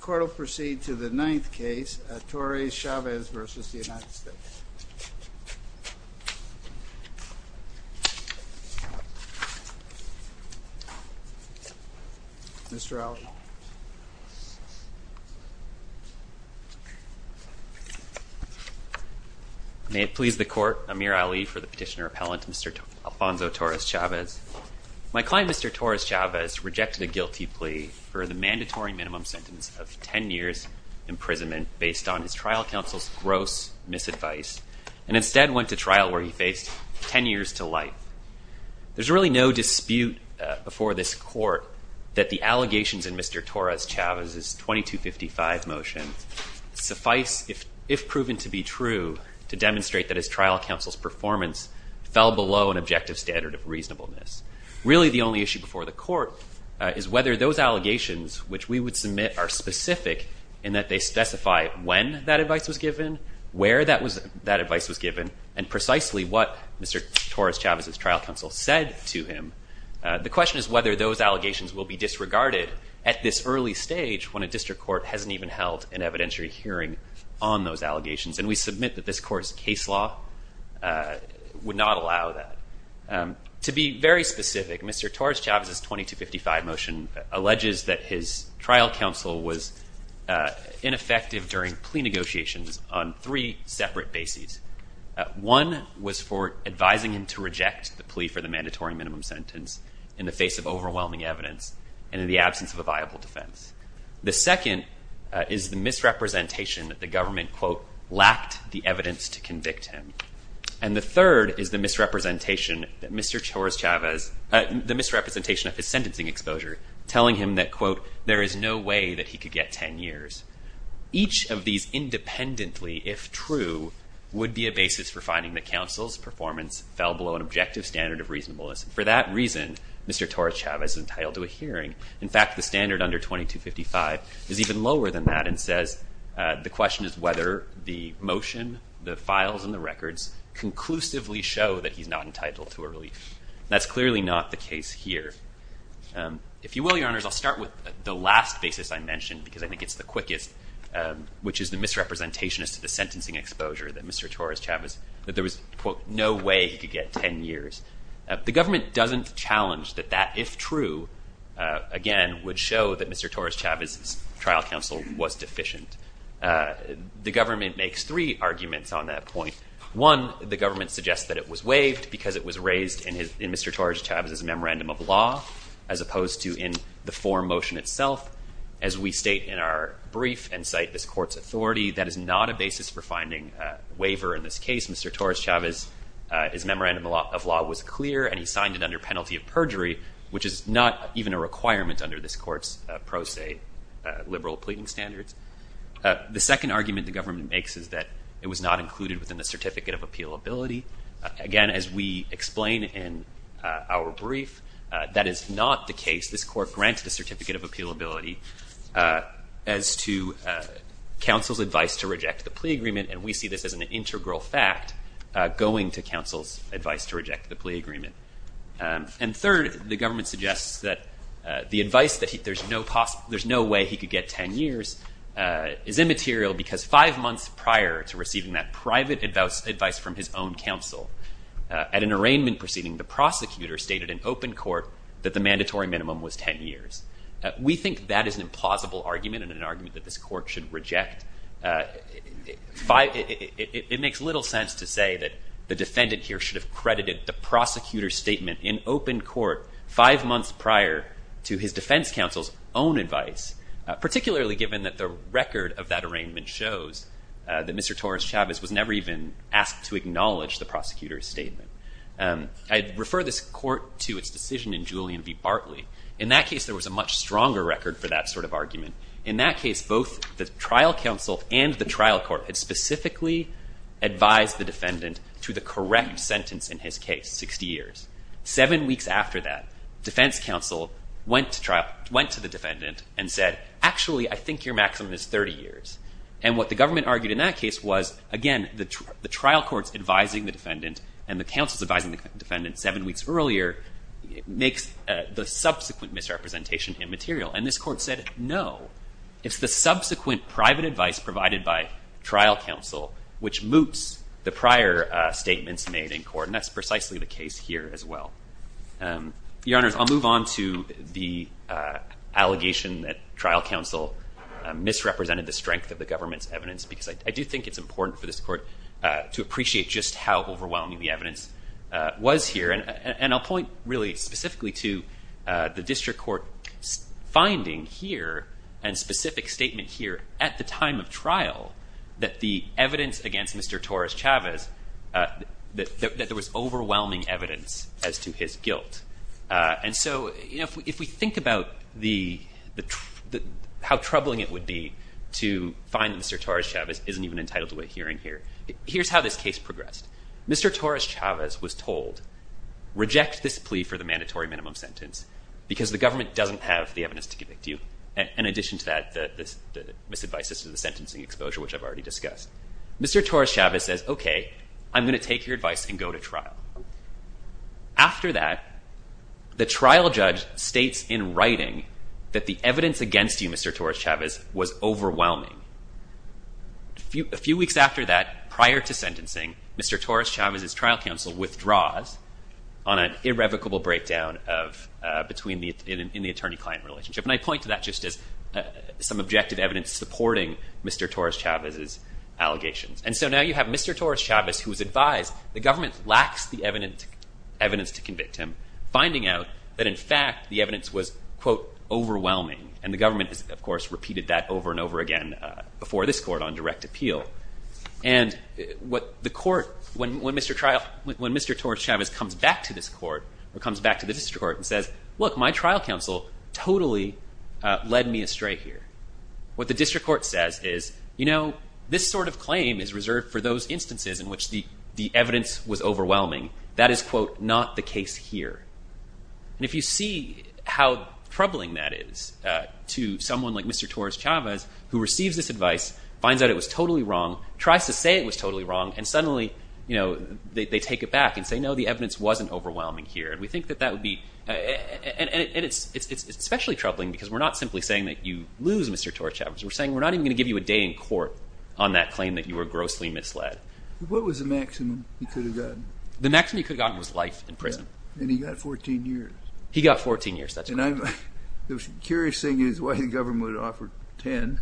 Court will proceed to the ninth case, Torres-Chavez v. United States. Mr. Ali. May it please the Court, Amir Ali for the petitioner appellant, Mr. Alfonso Torres-Chavez. My client, Mr. Torres-Chavez, rejected a guilty plea for the mandatory minimum sentence of 10 years' imprisonment based on his trial counsel's gross misadvice and instead went to trial where he faced 10 years to life. There's really no dispute before this Court that the allegations in Mr. Torres-Chavez's 2255 motion suffice, if proven to be true, to demonstrate that his trial counsel's performance fell below an objective standard of reasonableness. Really, the only issue before the Court is whether those allegations which we would submit are specific in that they specify when that advice was given, where that advice was given, and precisely what Mr. Torres-Chavez's trial counsel said to him. The question is whether those allegations will be disregarded at this early stage when a district court hasn't even held an evidentiary hearing on those allegations. And we submit that this Court's case law would not allow that. To be very specific, Mr. Torres-Chavez's 2255 motion alleges that his trial counsel was ineffective during plea negotiations on three separate bases. One was for advising him to reject the plea for the mandatory minimum sentence in the face of overwhelming evidence and in the absence of a viable defense. The second is the misrepresentation that the government, quote, lacked the evidence to convict him. And the third is the misrepresentation of his sentencing exposure telling him that, quote, there is no way that he could get 10 years. Each of these independently, if true, would be a basis for finding that counsel's performance fell below an objective standard of reasonableness. For that reason, Mr. Torres-Chavez is entitled to a hearing. In fact, the standard under 2255 is even lower than that and says the question is whether the motion, the files, and the records conclusively show that he's not entitled to a relief. That's clearly not the case here. If you will, Your Honors, I'll start with the last basis I mentioned because I think it's the quickest, which is the misrepresentation as to the sentencing exposure that Mr. Torres-Chavez that there was, quote, no way he could get 10 years. The government doesn't challenge that that, if true, again, would show that Mr. Torres-Chavez's trial counsel was deficient. The government makes three arguments on that point. One, the government suggests that it was waived because it was raised in Mr. Torres-Chavez's memorandum of law as opposed to in the forum motion itself as we state in our brief and cite this court's authority. That is not a basis for finding a waiver in this case. Mr. Torres-Chavez's memorandum of law was clear and he signed it under penalty of perjury, which is not even a requirement under this court's pro se liberal pleading standards. The second argument the government makes is that it was not included within the certificate of appealability. Again, as we explain in our brief, that is not the case. as to counsel's advice to reject the plea agreement, and we see this as an integral fact going to counsel's advice to reject the plea agreement. And third, the government suggests that the advice that there's no way he could get 10 years is immaterial because five months prior to receiving that private advice from his own counsel, at an arraignment proceeding, the prosecutor stated in open court that the mandatory minimum was 10 years. We think that is an implausible argument and an argument that this court should reject. It makes little sense to say that the defendant here should have credited the prosecutor's statement in open court five months prior to his defense counsel's own advice, particularly given that the record of that arraignment shows that Mr. Torres-Chavez was never even asked to acknowledge the prosecutor's statement. I refer this court to its decision in Julian v. Bartley. In that case, both the trial counsel and the trial court had specifically advised the defendant to the correct sentence in his case, 60 years. Seven weeks after that, defense counsel went to the defendant and said, actually, I think your maximum is 30 years. And what the government argued in that case was, again, the trial court's advising the defendant and the counsel's advising the defendant seven weeks earlier makes the subsequent misrepresentation immaterial. And this court said, no, it's the subsequent private advice provided by trial counsel which moots the prior statements made in court. And that's precisely the case here as well. Your Honors, I'll move on to the allegation that trial counsel misrepresented the strength of the government's evidence because I do think it's important for this court to appreciate just how overwhelming the evidence was here. And I'll point really specifically to the district court's finding here and specific statement here at the time of trial that the evidence against Mr. Torres-Chavez, that there was overwhelming evidence as to his guilt. And so if we think about how troubling it would be to find that Mr. Torres-Chavez isn't even entitled to a hearing here, here's how this case progressed. Mr. Torres-Chavez was told, reject this plea for the mandatory minimum sentence because the government doesn't have the evidence to convict you. In addition to that, the misadvices to the sentencing exposure which I've already discussed. Mr. Torres-Chavez says, okay, I'm going to take your advice and go to trial. After that, the trial judge states in writing that the evidence against you, Mr. Torres-Chavez, was overwhelming. A few weeks after that, Mr. Torres-Chavez's trial counsel withdraws on an irrevocable breakdown in the attorney-client relationship. And I point to that just as some objective evidence supporting Mr. Torres-Chavez's allegations. And so now you have Mr. Torres-Chavez who was advised the government lacks the evidence to convict him, finding out that in fact the evidence was, quote, overwhelming. And the government of course repeated that over and over again before this court on direct appeal. And what the court, when Mr. Torres-Chavez comes back to this court, or comes back to the district court and says, look, my trial counsel totally led me astray here. What the district court says is, you know, this sort of claim is reserved for those instances in which the evidence was overwhelming. That is, quote, not the case here. And if you see how troubling that is to someone like Mr. Torres-Chavez, who receives this advice, finds out it was totally wrong, tries to say it was totally wrong, and suddenly, you know, they take it back and say, no, the evidence wasn't overwhelming here. And we think that that would be, and it's especially troubling because we're not simply saying that you lose Mr. Torres-Chavez. We're saying we're not even going to give you a day in court on that claim that you were grossly misled. What was the maximum he could have gotten? The maximum he could have gotten was life in prison. And he got 14 years. He got 14 years, that's correct. The curious thing is why the government would offer 10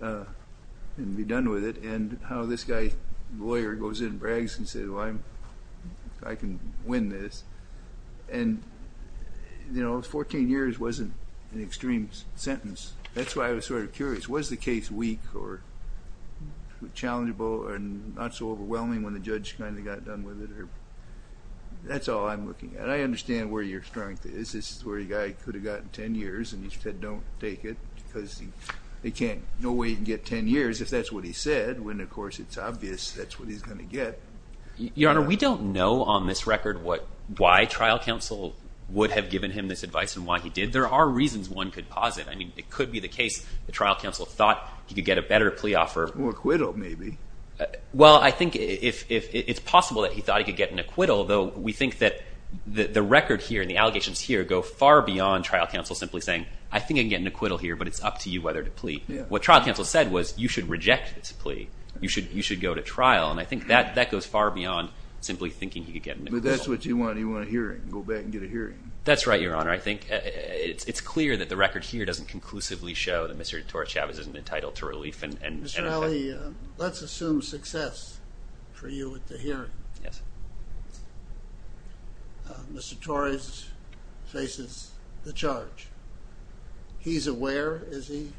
and be done with it, and how this guy, lawyer, goes in and brags and says, well, I'm, I can win this. And, you know, 14 years wasn't an extreme sentence. That's why I was sort of curious. Was the case weak or challengeable and not so overwhelming when the judge kind of got done with it? That's all I'm looking at. I understand where your strength is. This is where a guy could have gotten 10 years. And he said don't take it because they can't, no way you can get 10 years if that's what he said. When, of course, it's obvious that's what he's going to get. Your Honor, we don't know on this record what, why trial counsel would have given him this advice and why he did. There are reasons one could posit. I mean, it could be the case the trial counsel thought he could get a better plea offer. Or acquittal, maybe. Well, I think if it's possible that he thought he could get an acquittal, though, we think that the record here and the allegations here go far beyond trial counsel simply saying I think I can get an acquittal here, but it's up to you whether to plea. What trial counsel said was you should reject this plea. You should go to trial. And I think that goes far beyond simply thinking he could get an acquittal. But that's what you want. You want a hearing. Go back and get a hearing. That's right, Your Honor. I think it's clear that the record here doesn't conclusively show that Mr. Torres-Chavez isn't entitled to relief and Mr. Alley, let's assume success for you at the hearing. Mr. Torres faces the charge. He's aware, is he,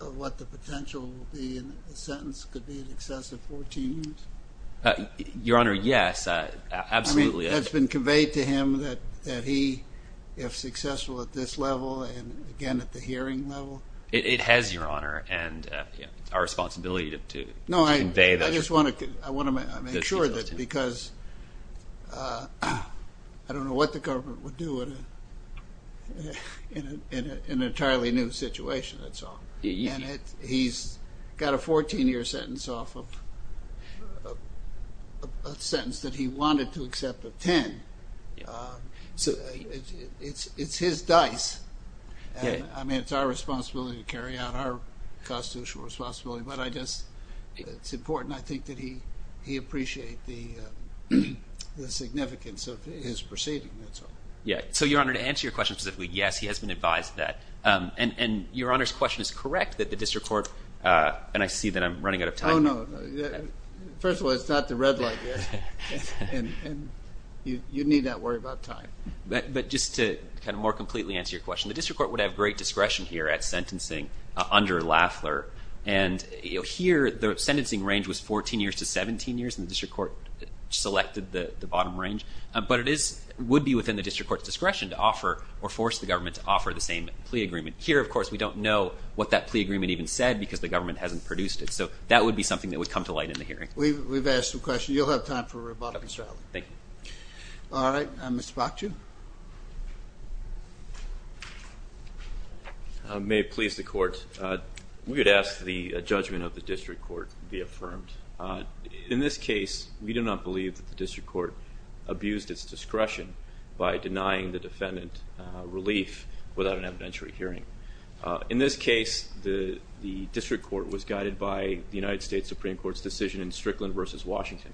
of what the potential will be in a sentence could be in excess of 14 years? Your Honor, yes. Absolutely. I mean, that's been conveyed to him that he, if successful at this level and, again, at the hearing level. It has, Your Honor, and our responsibility to convey that. No, I just want to make sure that because I don't know what the government would do in an entirely new situation, that's all. And he's got a 14-year sentence off of a sentence that he wanted to accept of 10. It's his dice. I mean, it's our responsibility to carry out our constitutional responsibility, but I just it's important, I think, that he appreciate the proceeding, that's all. So, Your Honor, to answer your question specifically, yes, he has been advised that. And Your Honor's question is correct, that the District Court and I see that I'm running out of time. Oh, no. First of all, it's not the red light yet. You need not worry about time. But just to kind of more completely answer your question, the District Court would have great discretion here at sentencing under Lafler. And here, the sentencing range was 14 years to 17 years and the District Court selected the bottom range. But it would be within the District Court's discretion to offer or force the government to offer the same plea agreement. Here, of course, we don't know what that plea agreement even said because the government hasn't produced it. So that would be something that would come to light in the hearing. We've asked some questions. You'll have time for a rebuttal, Mr. Allen. Thank you. All right. Mr. Bakju? May it please the Court. We would ask the judgment of the District Court be affirmed. In this case, we do not believe that the District Court abused its discretion by denying the defendant relief without an evidentiary hearing. In this case, the District Court was guided by the United States Supreme Court's decision in Strickland v. Washington.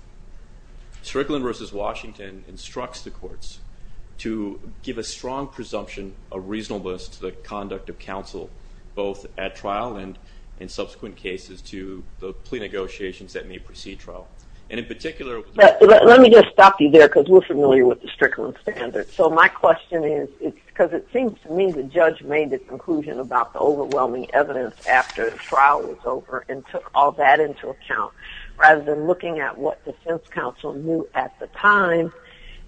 Strickland v. Washington instructs the courts to give a strong presumption of reasonableness to the conduct of counsel both at trial and in subsequent cases to the plea negotiations that may precede trial. And in particular... Let me just stop you there because we're familiar with the Strickland standards. So my question is because it seems to me the judge made the conclusion about the overwhelming evidence after the trial was over and took all that into account rather than looking at what the defense counsel knew at the time.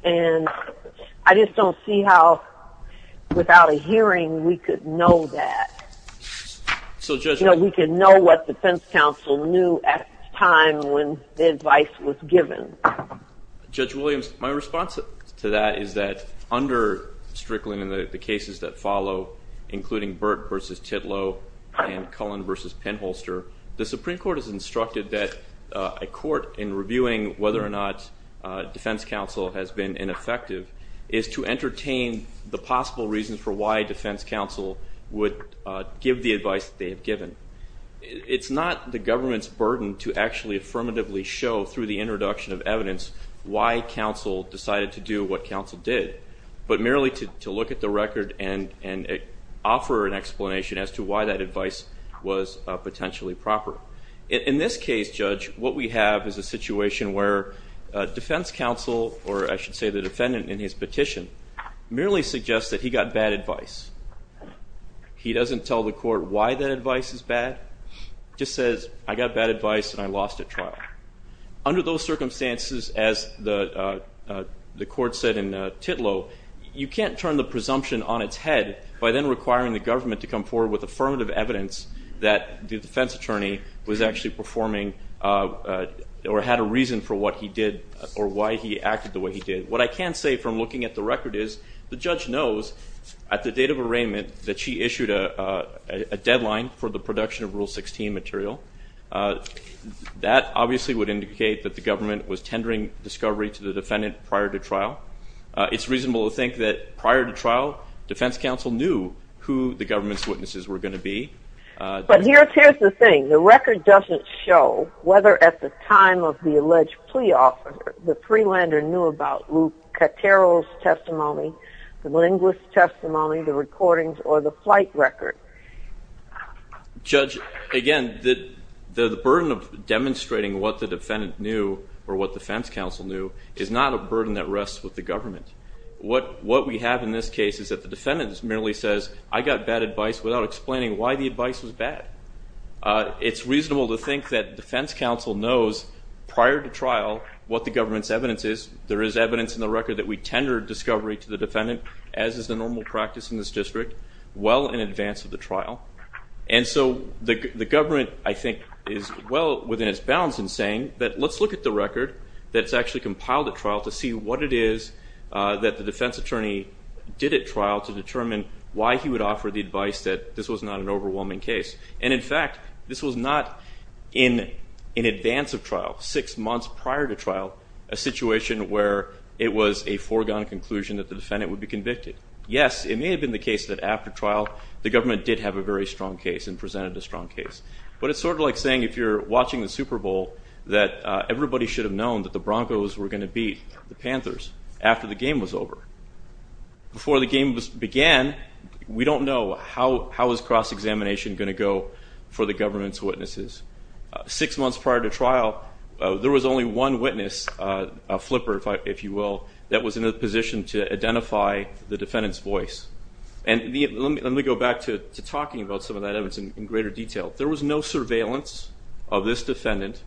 And I just don't see how without a hearing we could know that. So Judge... We could know what the defense counsel knew at the time when the advice was given. Judge Williams, my response to that is that under Strickland and the cases that follow, including Burt v. Titlow and Cullen v. Penholster, the Supreme Court is instructed that a court, in reviewing whether or not defense counsel has been ineffective, is to entertain the possible reasons for why defense counsel would give the advice that they have given. It's not the government's burden to actually affirmatively show, through the introduction of evidence, why counsel decided to do what counsel did, but merely to look at the record and offer an explanation as to why that advice was potentially proper. In this case, Judge, what we have is a situation where defense counsel, or I should say the defendant in his petition, merely suggests that he got bad advice. He doesn't tell the court why that advice is bad, just says, I got bad advice and I lost at trial. Under those circumstances, as the court said in Titlow, you can't turn the presumption on its head by then requiring the government to come forward with affirmative evidence that the defense attorney was actually performing or had a reason for what he did or why he acted the way he did. What I can say from looking at the record is the judge knows at the date of arraignment that she issued a deadline for the production of Rule 16 material. That obviously would indicate that the government was tendering discovery to the defendant prior to trial. It's reasonable to think that prior to trial, defense counsel knew who the government's witnesses were going to be. But here's the thing. The record doesn't show whether at the time of the alleged plea offer the freelander knew about Lucatero's testimony, the linguist's testimony, the recordings, or the flight record. Judge, again, the burden of demonstrating what the defendant knew or what defense counsel knew is not a burden that rests with the government. What we have in this case is that the defendant merely says, I got bad advice without explaining why the advice was bad. It's reasonable to think that defense counsel knows prior to trial what the government's evidence is. There is evidence in the record that we tendered discovery to the defendant, as is the normal practice in this district, well in advance of the trial. And so the government, I think, is well within its bounds in saying that let's look at the record that's actually compiled at trial to see what it is that the defense attorney did at trial to determine why he would offer the advice that this was not an overwhelming case. And, in fact, this was not in advance of trial, six months prior to trial, a situation where it was a foregone conclusion that the defendant would be convicted. Yes, it may have been the case that after trial the government did have a very strong case and presented a strong case. But it's sort of like saying if you're watching the Super Bowl that everybody should have known that the Broncos were going to beat the Panthers after the game was over. Before the game began, we don't know how is cross-examination going to go for the government's witnesses. Six months prior to trial, there was only one witness, a flipper, if you will, that was in a position to identify the defendant's voice. And let me go back to talking about some of that evidence in greater detail. There was no surveillance of this defendant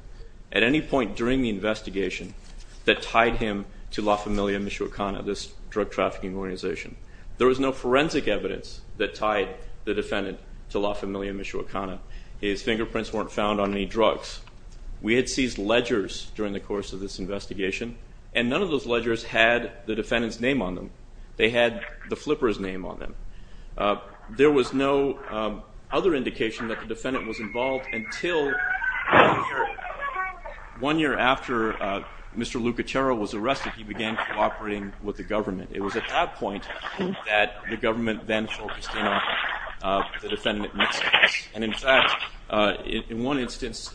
at any point during the investigation that tied him to La Familia Michoacana, this drug trafficking organization. There was no forensic evidence that tied the defendant to La Familia Michoacana. His fingerprints weren't found on any drugs. We had seized ledgers during the course of this investigation, and none of those ledgers had the defendant's name on them. They had the flipper's name on them. There was no other indication that the defendant was involved until one year after Mr. Lucatero was arrested, he began cooperating with the government. It was at that point that the government then focused in on the defendant and, in fact, in one instance,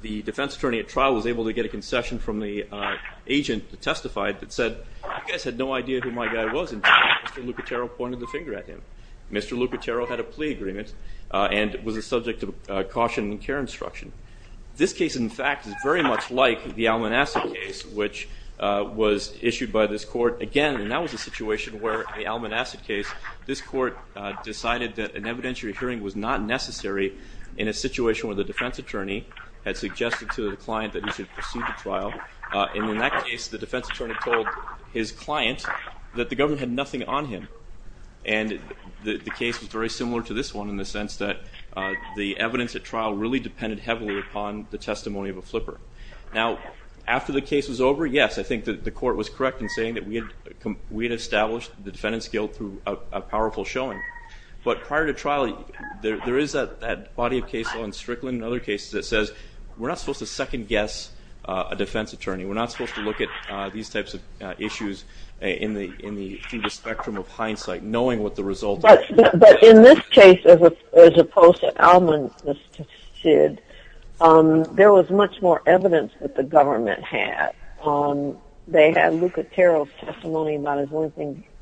the defense attorney at trial was able to get a concession from the agent that testified that said, you guys had no idea who my guy was until Mr. Lucatero pointed the finger at him. Mr. Lucatero had a plea agreement and was a subject to caution and care instruction. This case, in fact, is very much like the Almanaca case, which was issued by this court again, and that was a situation where the Almanaca case, this court decided that an evidentiary hearing was not necessary in a situation where the defense attorney had suggested to the client that he should proceed to trial. In that case, the defense attorney told his client that the government had nothing on him, and the case was very similar to this one in the sense that the evidence at trial really depended heavily upon the testimony of a flipper. Now, after the case was over, yes, I think the court was correct in saying that we had established the defendant's guilt through a powerful showing, but prior to trial, there is that body of case law in Strickland and other cases that says we're not supposed to second guess a defense attorney. We're not supposed to look at these types of issues in the spectrum of hindsight, knowing what the result is. But in this case, as opposed to Alman, there was much more evidence that the government had. They had Luca Terrell's testimony about his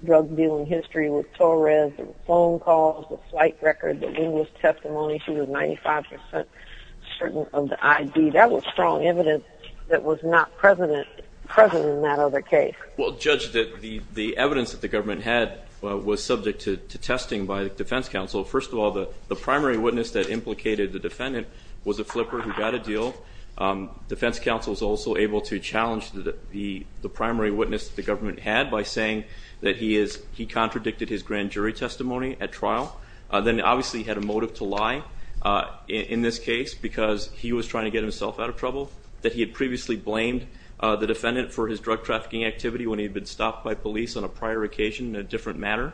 drug dealing history with Torres, the phone calls, the flight record, the witness testimony. She was 95% certain of the ID. That was strong evidence that was not present in that other case. Well, Judge, the evidence that the government had was subject to testing by the defense counsel. First of all, the primary witness that implicated the defendant was a flipper who got a deal. Defense counsel was also able to challenge the primary witness that the government had by saying that he contradicted his grand jury testimony at trial. Then, obviously, he had a motive to lie in this case because he was trying to get himself out of trouble, that he had previously blamed the defendant for his drug trafficking activity when he had been stopped by police on a prior occasion in a different matter.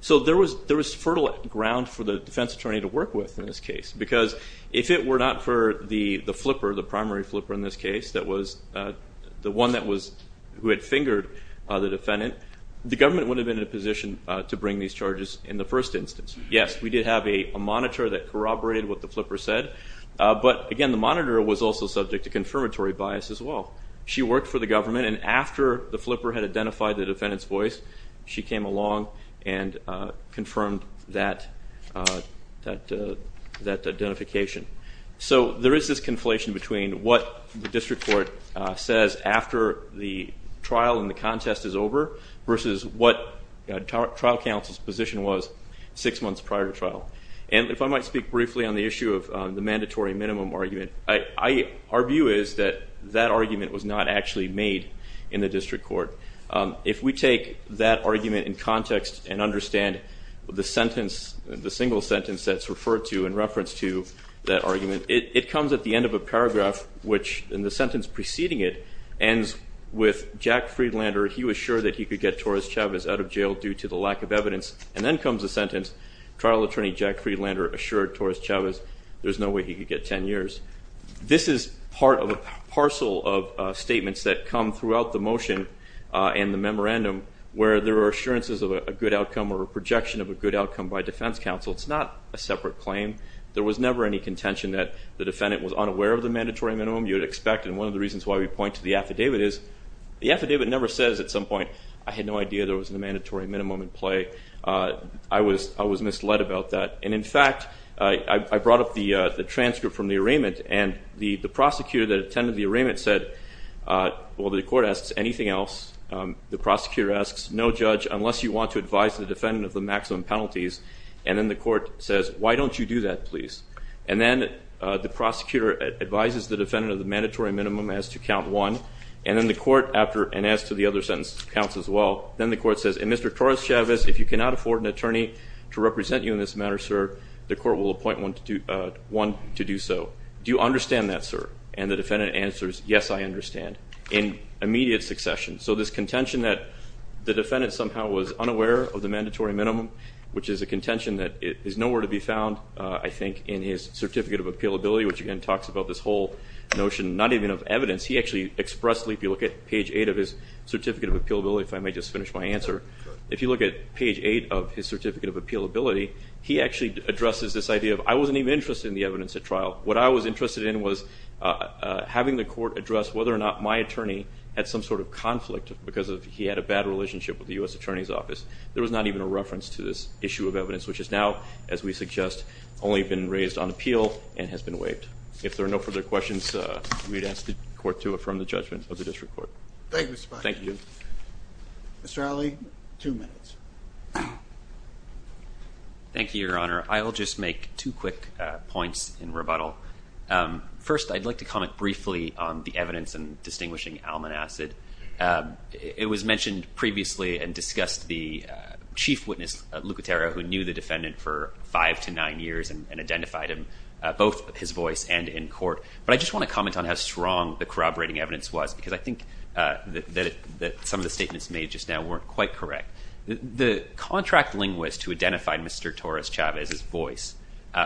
So there was fertile ground for the defense attorney to work with in this case because if it were not for the flipper, the primary flipper in this case, that was the one who had fingered the defendant, the government would have been in a position to bring these charges in the first instance. Yes, we did have a monitor that corroborated what the flipper said, but again the monitor was also subject to confirmatory bias as well. She worked for the government and after the flipper had identified the defendant's voice, she came along and confirmed that identification. So there is this conflation between what the district court says after the trial and the contest is over versus what trial counsel's position was six months prior to trial. And if I might speak briefly on the issue of the mandatory minimum argument, our view is that that argument was not actually made in the district court. If we take that argument in context and understand the sentence, the single sentence that's referred to in reference to that argument, it comes at the end of a paragraph, which in the sentence preceding it ends with Jack Friedlander, he was sure that he could get Torres Chavez out of jail due to the lack of evidence, and then comes a sentence, trial attorney Jack Friedlander assured Torres Chavez there's no way he could get ten years. This is part of a parcel of statements that come throughout the motion and the memorandum where there are assurances of a good outcome or a projection of a good outcome by defense counsel. It's not a separate claim. There was never any contention that the defendant was unaware of the mandatory minimum. You would expect, and one of the reasons why we point to the affidavit is the affidavit never says at some point, I had no idea there was a mandatory minimum in play. I was misled about that. And in fact, I brought up the transcript from the arraignment and the prosecutor that attended the arraignment said well, the court asks anything else. The prosecutor asks no judge, unless you want to advise the defendant of the maximum penalties, and then the court says, why don't you do that please? And then the prosecutor advises the defendant of the mandatory minimum as to count one, and then the court, and as to the other sentence counts as well, then the court says, and Mr. Torres Chavez, if you cannot afford an attorney to represent you in this matter, sir, the court will appoint one to do so. Do you understand that, sir? And the defendant answers, yes, I understand. In immediate succession. So this contention that the defendant somehow was unaware of the mandatory minimum, which is a contention that is nowhere to be found, I think, in his certificate of appealability, which again talks about this whole notion not even of evidence, he actually expressly, if you look at page 8 of his certificate of appealability, if I may just finish my answer, if you look at page 8 of his certificate of appealability, he actually addresses this idea of, I wasn't even interested in the evidence at trial. What I was interested in was having the court address whether or not my attorney had some sort of conflict because he had a bad relationship with the U.S. Attorney's Office. There was not even a reference to this issue of evidence, which is now, as we suggest, only been raised on appeal, and has been waived. If there are no further questions, we'd ask the court to affirm the judgment of the district court. Thank you, Mr. Fox. Mr. Alley, two minutes. Thank you, Your Honor. I'll just make two quick points in rebuttal. First, I'd like to comment briefly on the evidence in distinguishing Almanacid. It was mentioned previously and discussed the chief witness, Luca Terra, who knew the defendant for five to nine years and identified him both his voice and in court, but I just want to comment on how strong the corroborating evidence was because I think that some of the statements made just now weren't quite correct. The contract linguist who identified Mr. Torres-Chavez's voice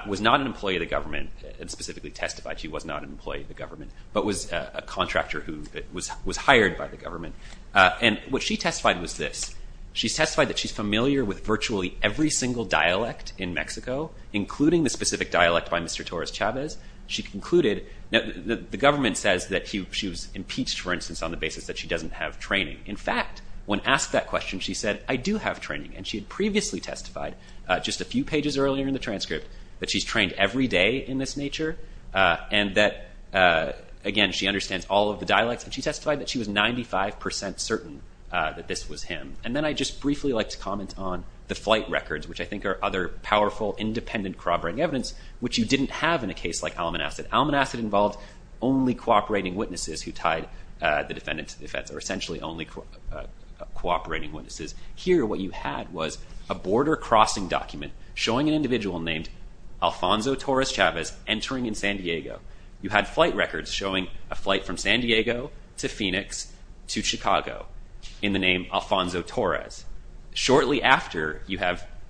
was not an employee of the government and specifically testified she was not an employee of the government, but was a contractor who was hired by the government, and what she testified was this. She testified that she's familiar with virtually every single dialect in Mexico, including the specific dialect by Mr. Torres-Chavez. The government says that she was impeached, for instance, on the basis that she doesn't have training. In fact, when asked that question, she said, I do have training, and she had previously testified just a few pages earlier in the transcript that she's trained every day in this nature, and that again, she understands all of the dialects, and she testified that she was 95% certain that this was him. And then I'd just briefly like to comment on the flight records, which I think are other powerful, independent corroborating evidence, which you didn't have in a case like Almanac. Almanac involved only cooperating witnesses who tied the defendant to the fence, or essentially only cooperating witnesses. Here, what you had was a border crossing document showing an individual named Alfonso Torres-Chavez entering in San Diego. You had flight records showing a flight from San Diego to Phoenix to Chicago in the name Alfonso Torres. Shortly after the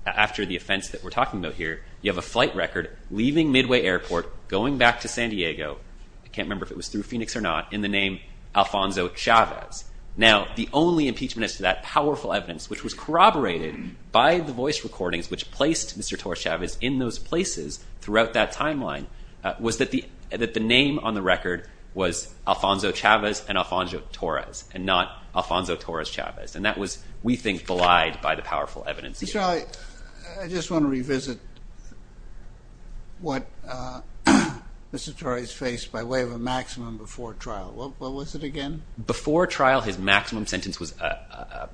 offense that we're talking about here, you have a flight record leaving Midway Airport, going back to San Diego, I can't remember if it was through Phoenix or not, in the name Alfonso Chavez. Now, the only impeachment as to that powerful evidence, which was corroborated by the voice recordings which placed Mr. Torres-Chavez in those places throughout that timeline was that the name on the record was Alfonso Chavez and Alfonso Torres, and not Alfonso Torres-Chavez. And that was, we think, belied by the powerful evidence here. I just want to revisit what Mr. Torres faced by way of a maximum before trial. What was it again? Before trial, his maximum sentence was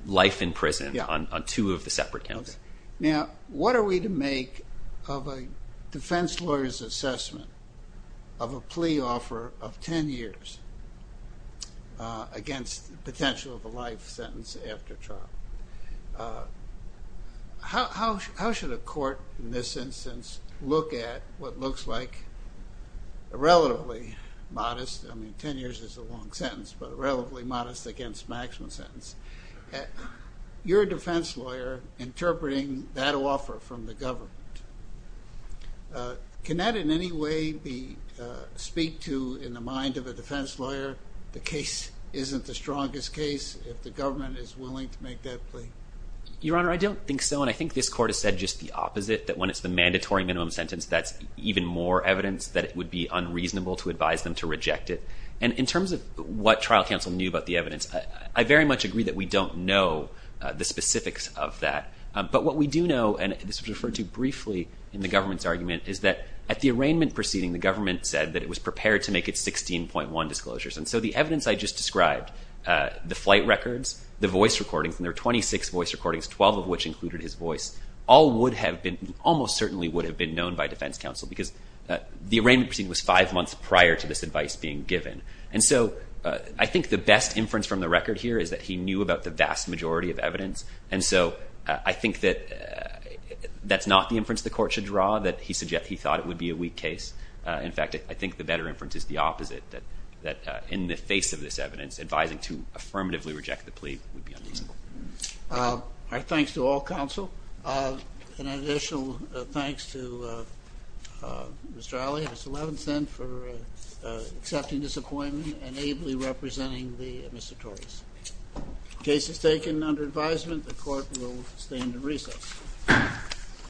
life in prison on two of the separate counts. Now, what are we to make of a defense lawyer's assessment of a plea offer of 10 years against the potential of a life sentence after trial? How should a court in this instance look at what looks like a relatively modest I mean, 10 years is a long sentence, but a relatively modest against maximum sentence. You're a defense lawyer interpreting that offer from the government. Can that in any way speak to, in the mind of a defense lawyer, the case isn't the strongest case if the government is willing to make that plea? Your Honor, I don't think so, and I think this Court has said just the opposite, that when it's the mandatory minimum sentence that's even more evidence that it could be affected. And in terms of what trial counsel knew about the evidence, I very much agree that we don't know the specifics of that. But what we do know, and this was referred to briefly in the government's argument, is that at the arraignment proceeding, the government said that it was prepared to make its 16.1 disclosures. And so the evidence I just described, the flight records, the voice recordings, and there were 26 voice recordings, 12 of which included his voice, all would have been, almost certainly would have been known by defense counsel, because the arraignment proceeding was five months prior to this advice being given. And so I think the best inference from the record here is that he knew about the vast majority of evidence. And so I think that that's not the inference the Court should draw, that he thought it would be a weak case. In fact, I think the better inference is the opposite, that in the face of this evidence, advising to affirmatively reject the plea would be unfeasible. Our thanks to all counsel. An additional thanks to Mr. Alley, Mr. Levinson, for accepting this appointment and ably representing the administrators. Case is taken under advisement. The Court will stand in recess.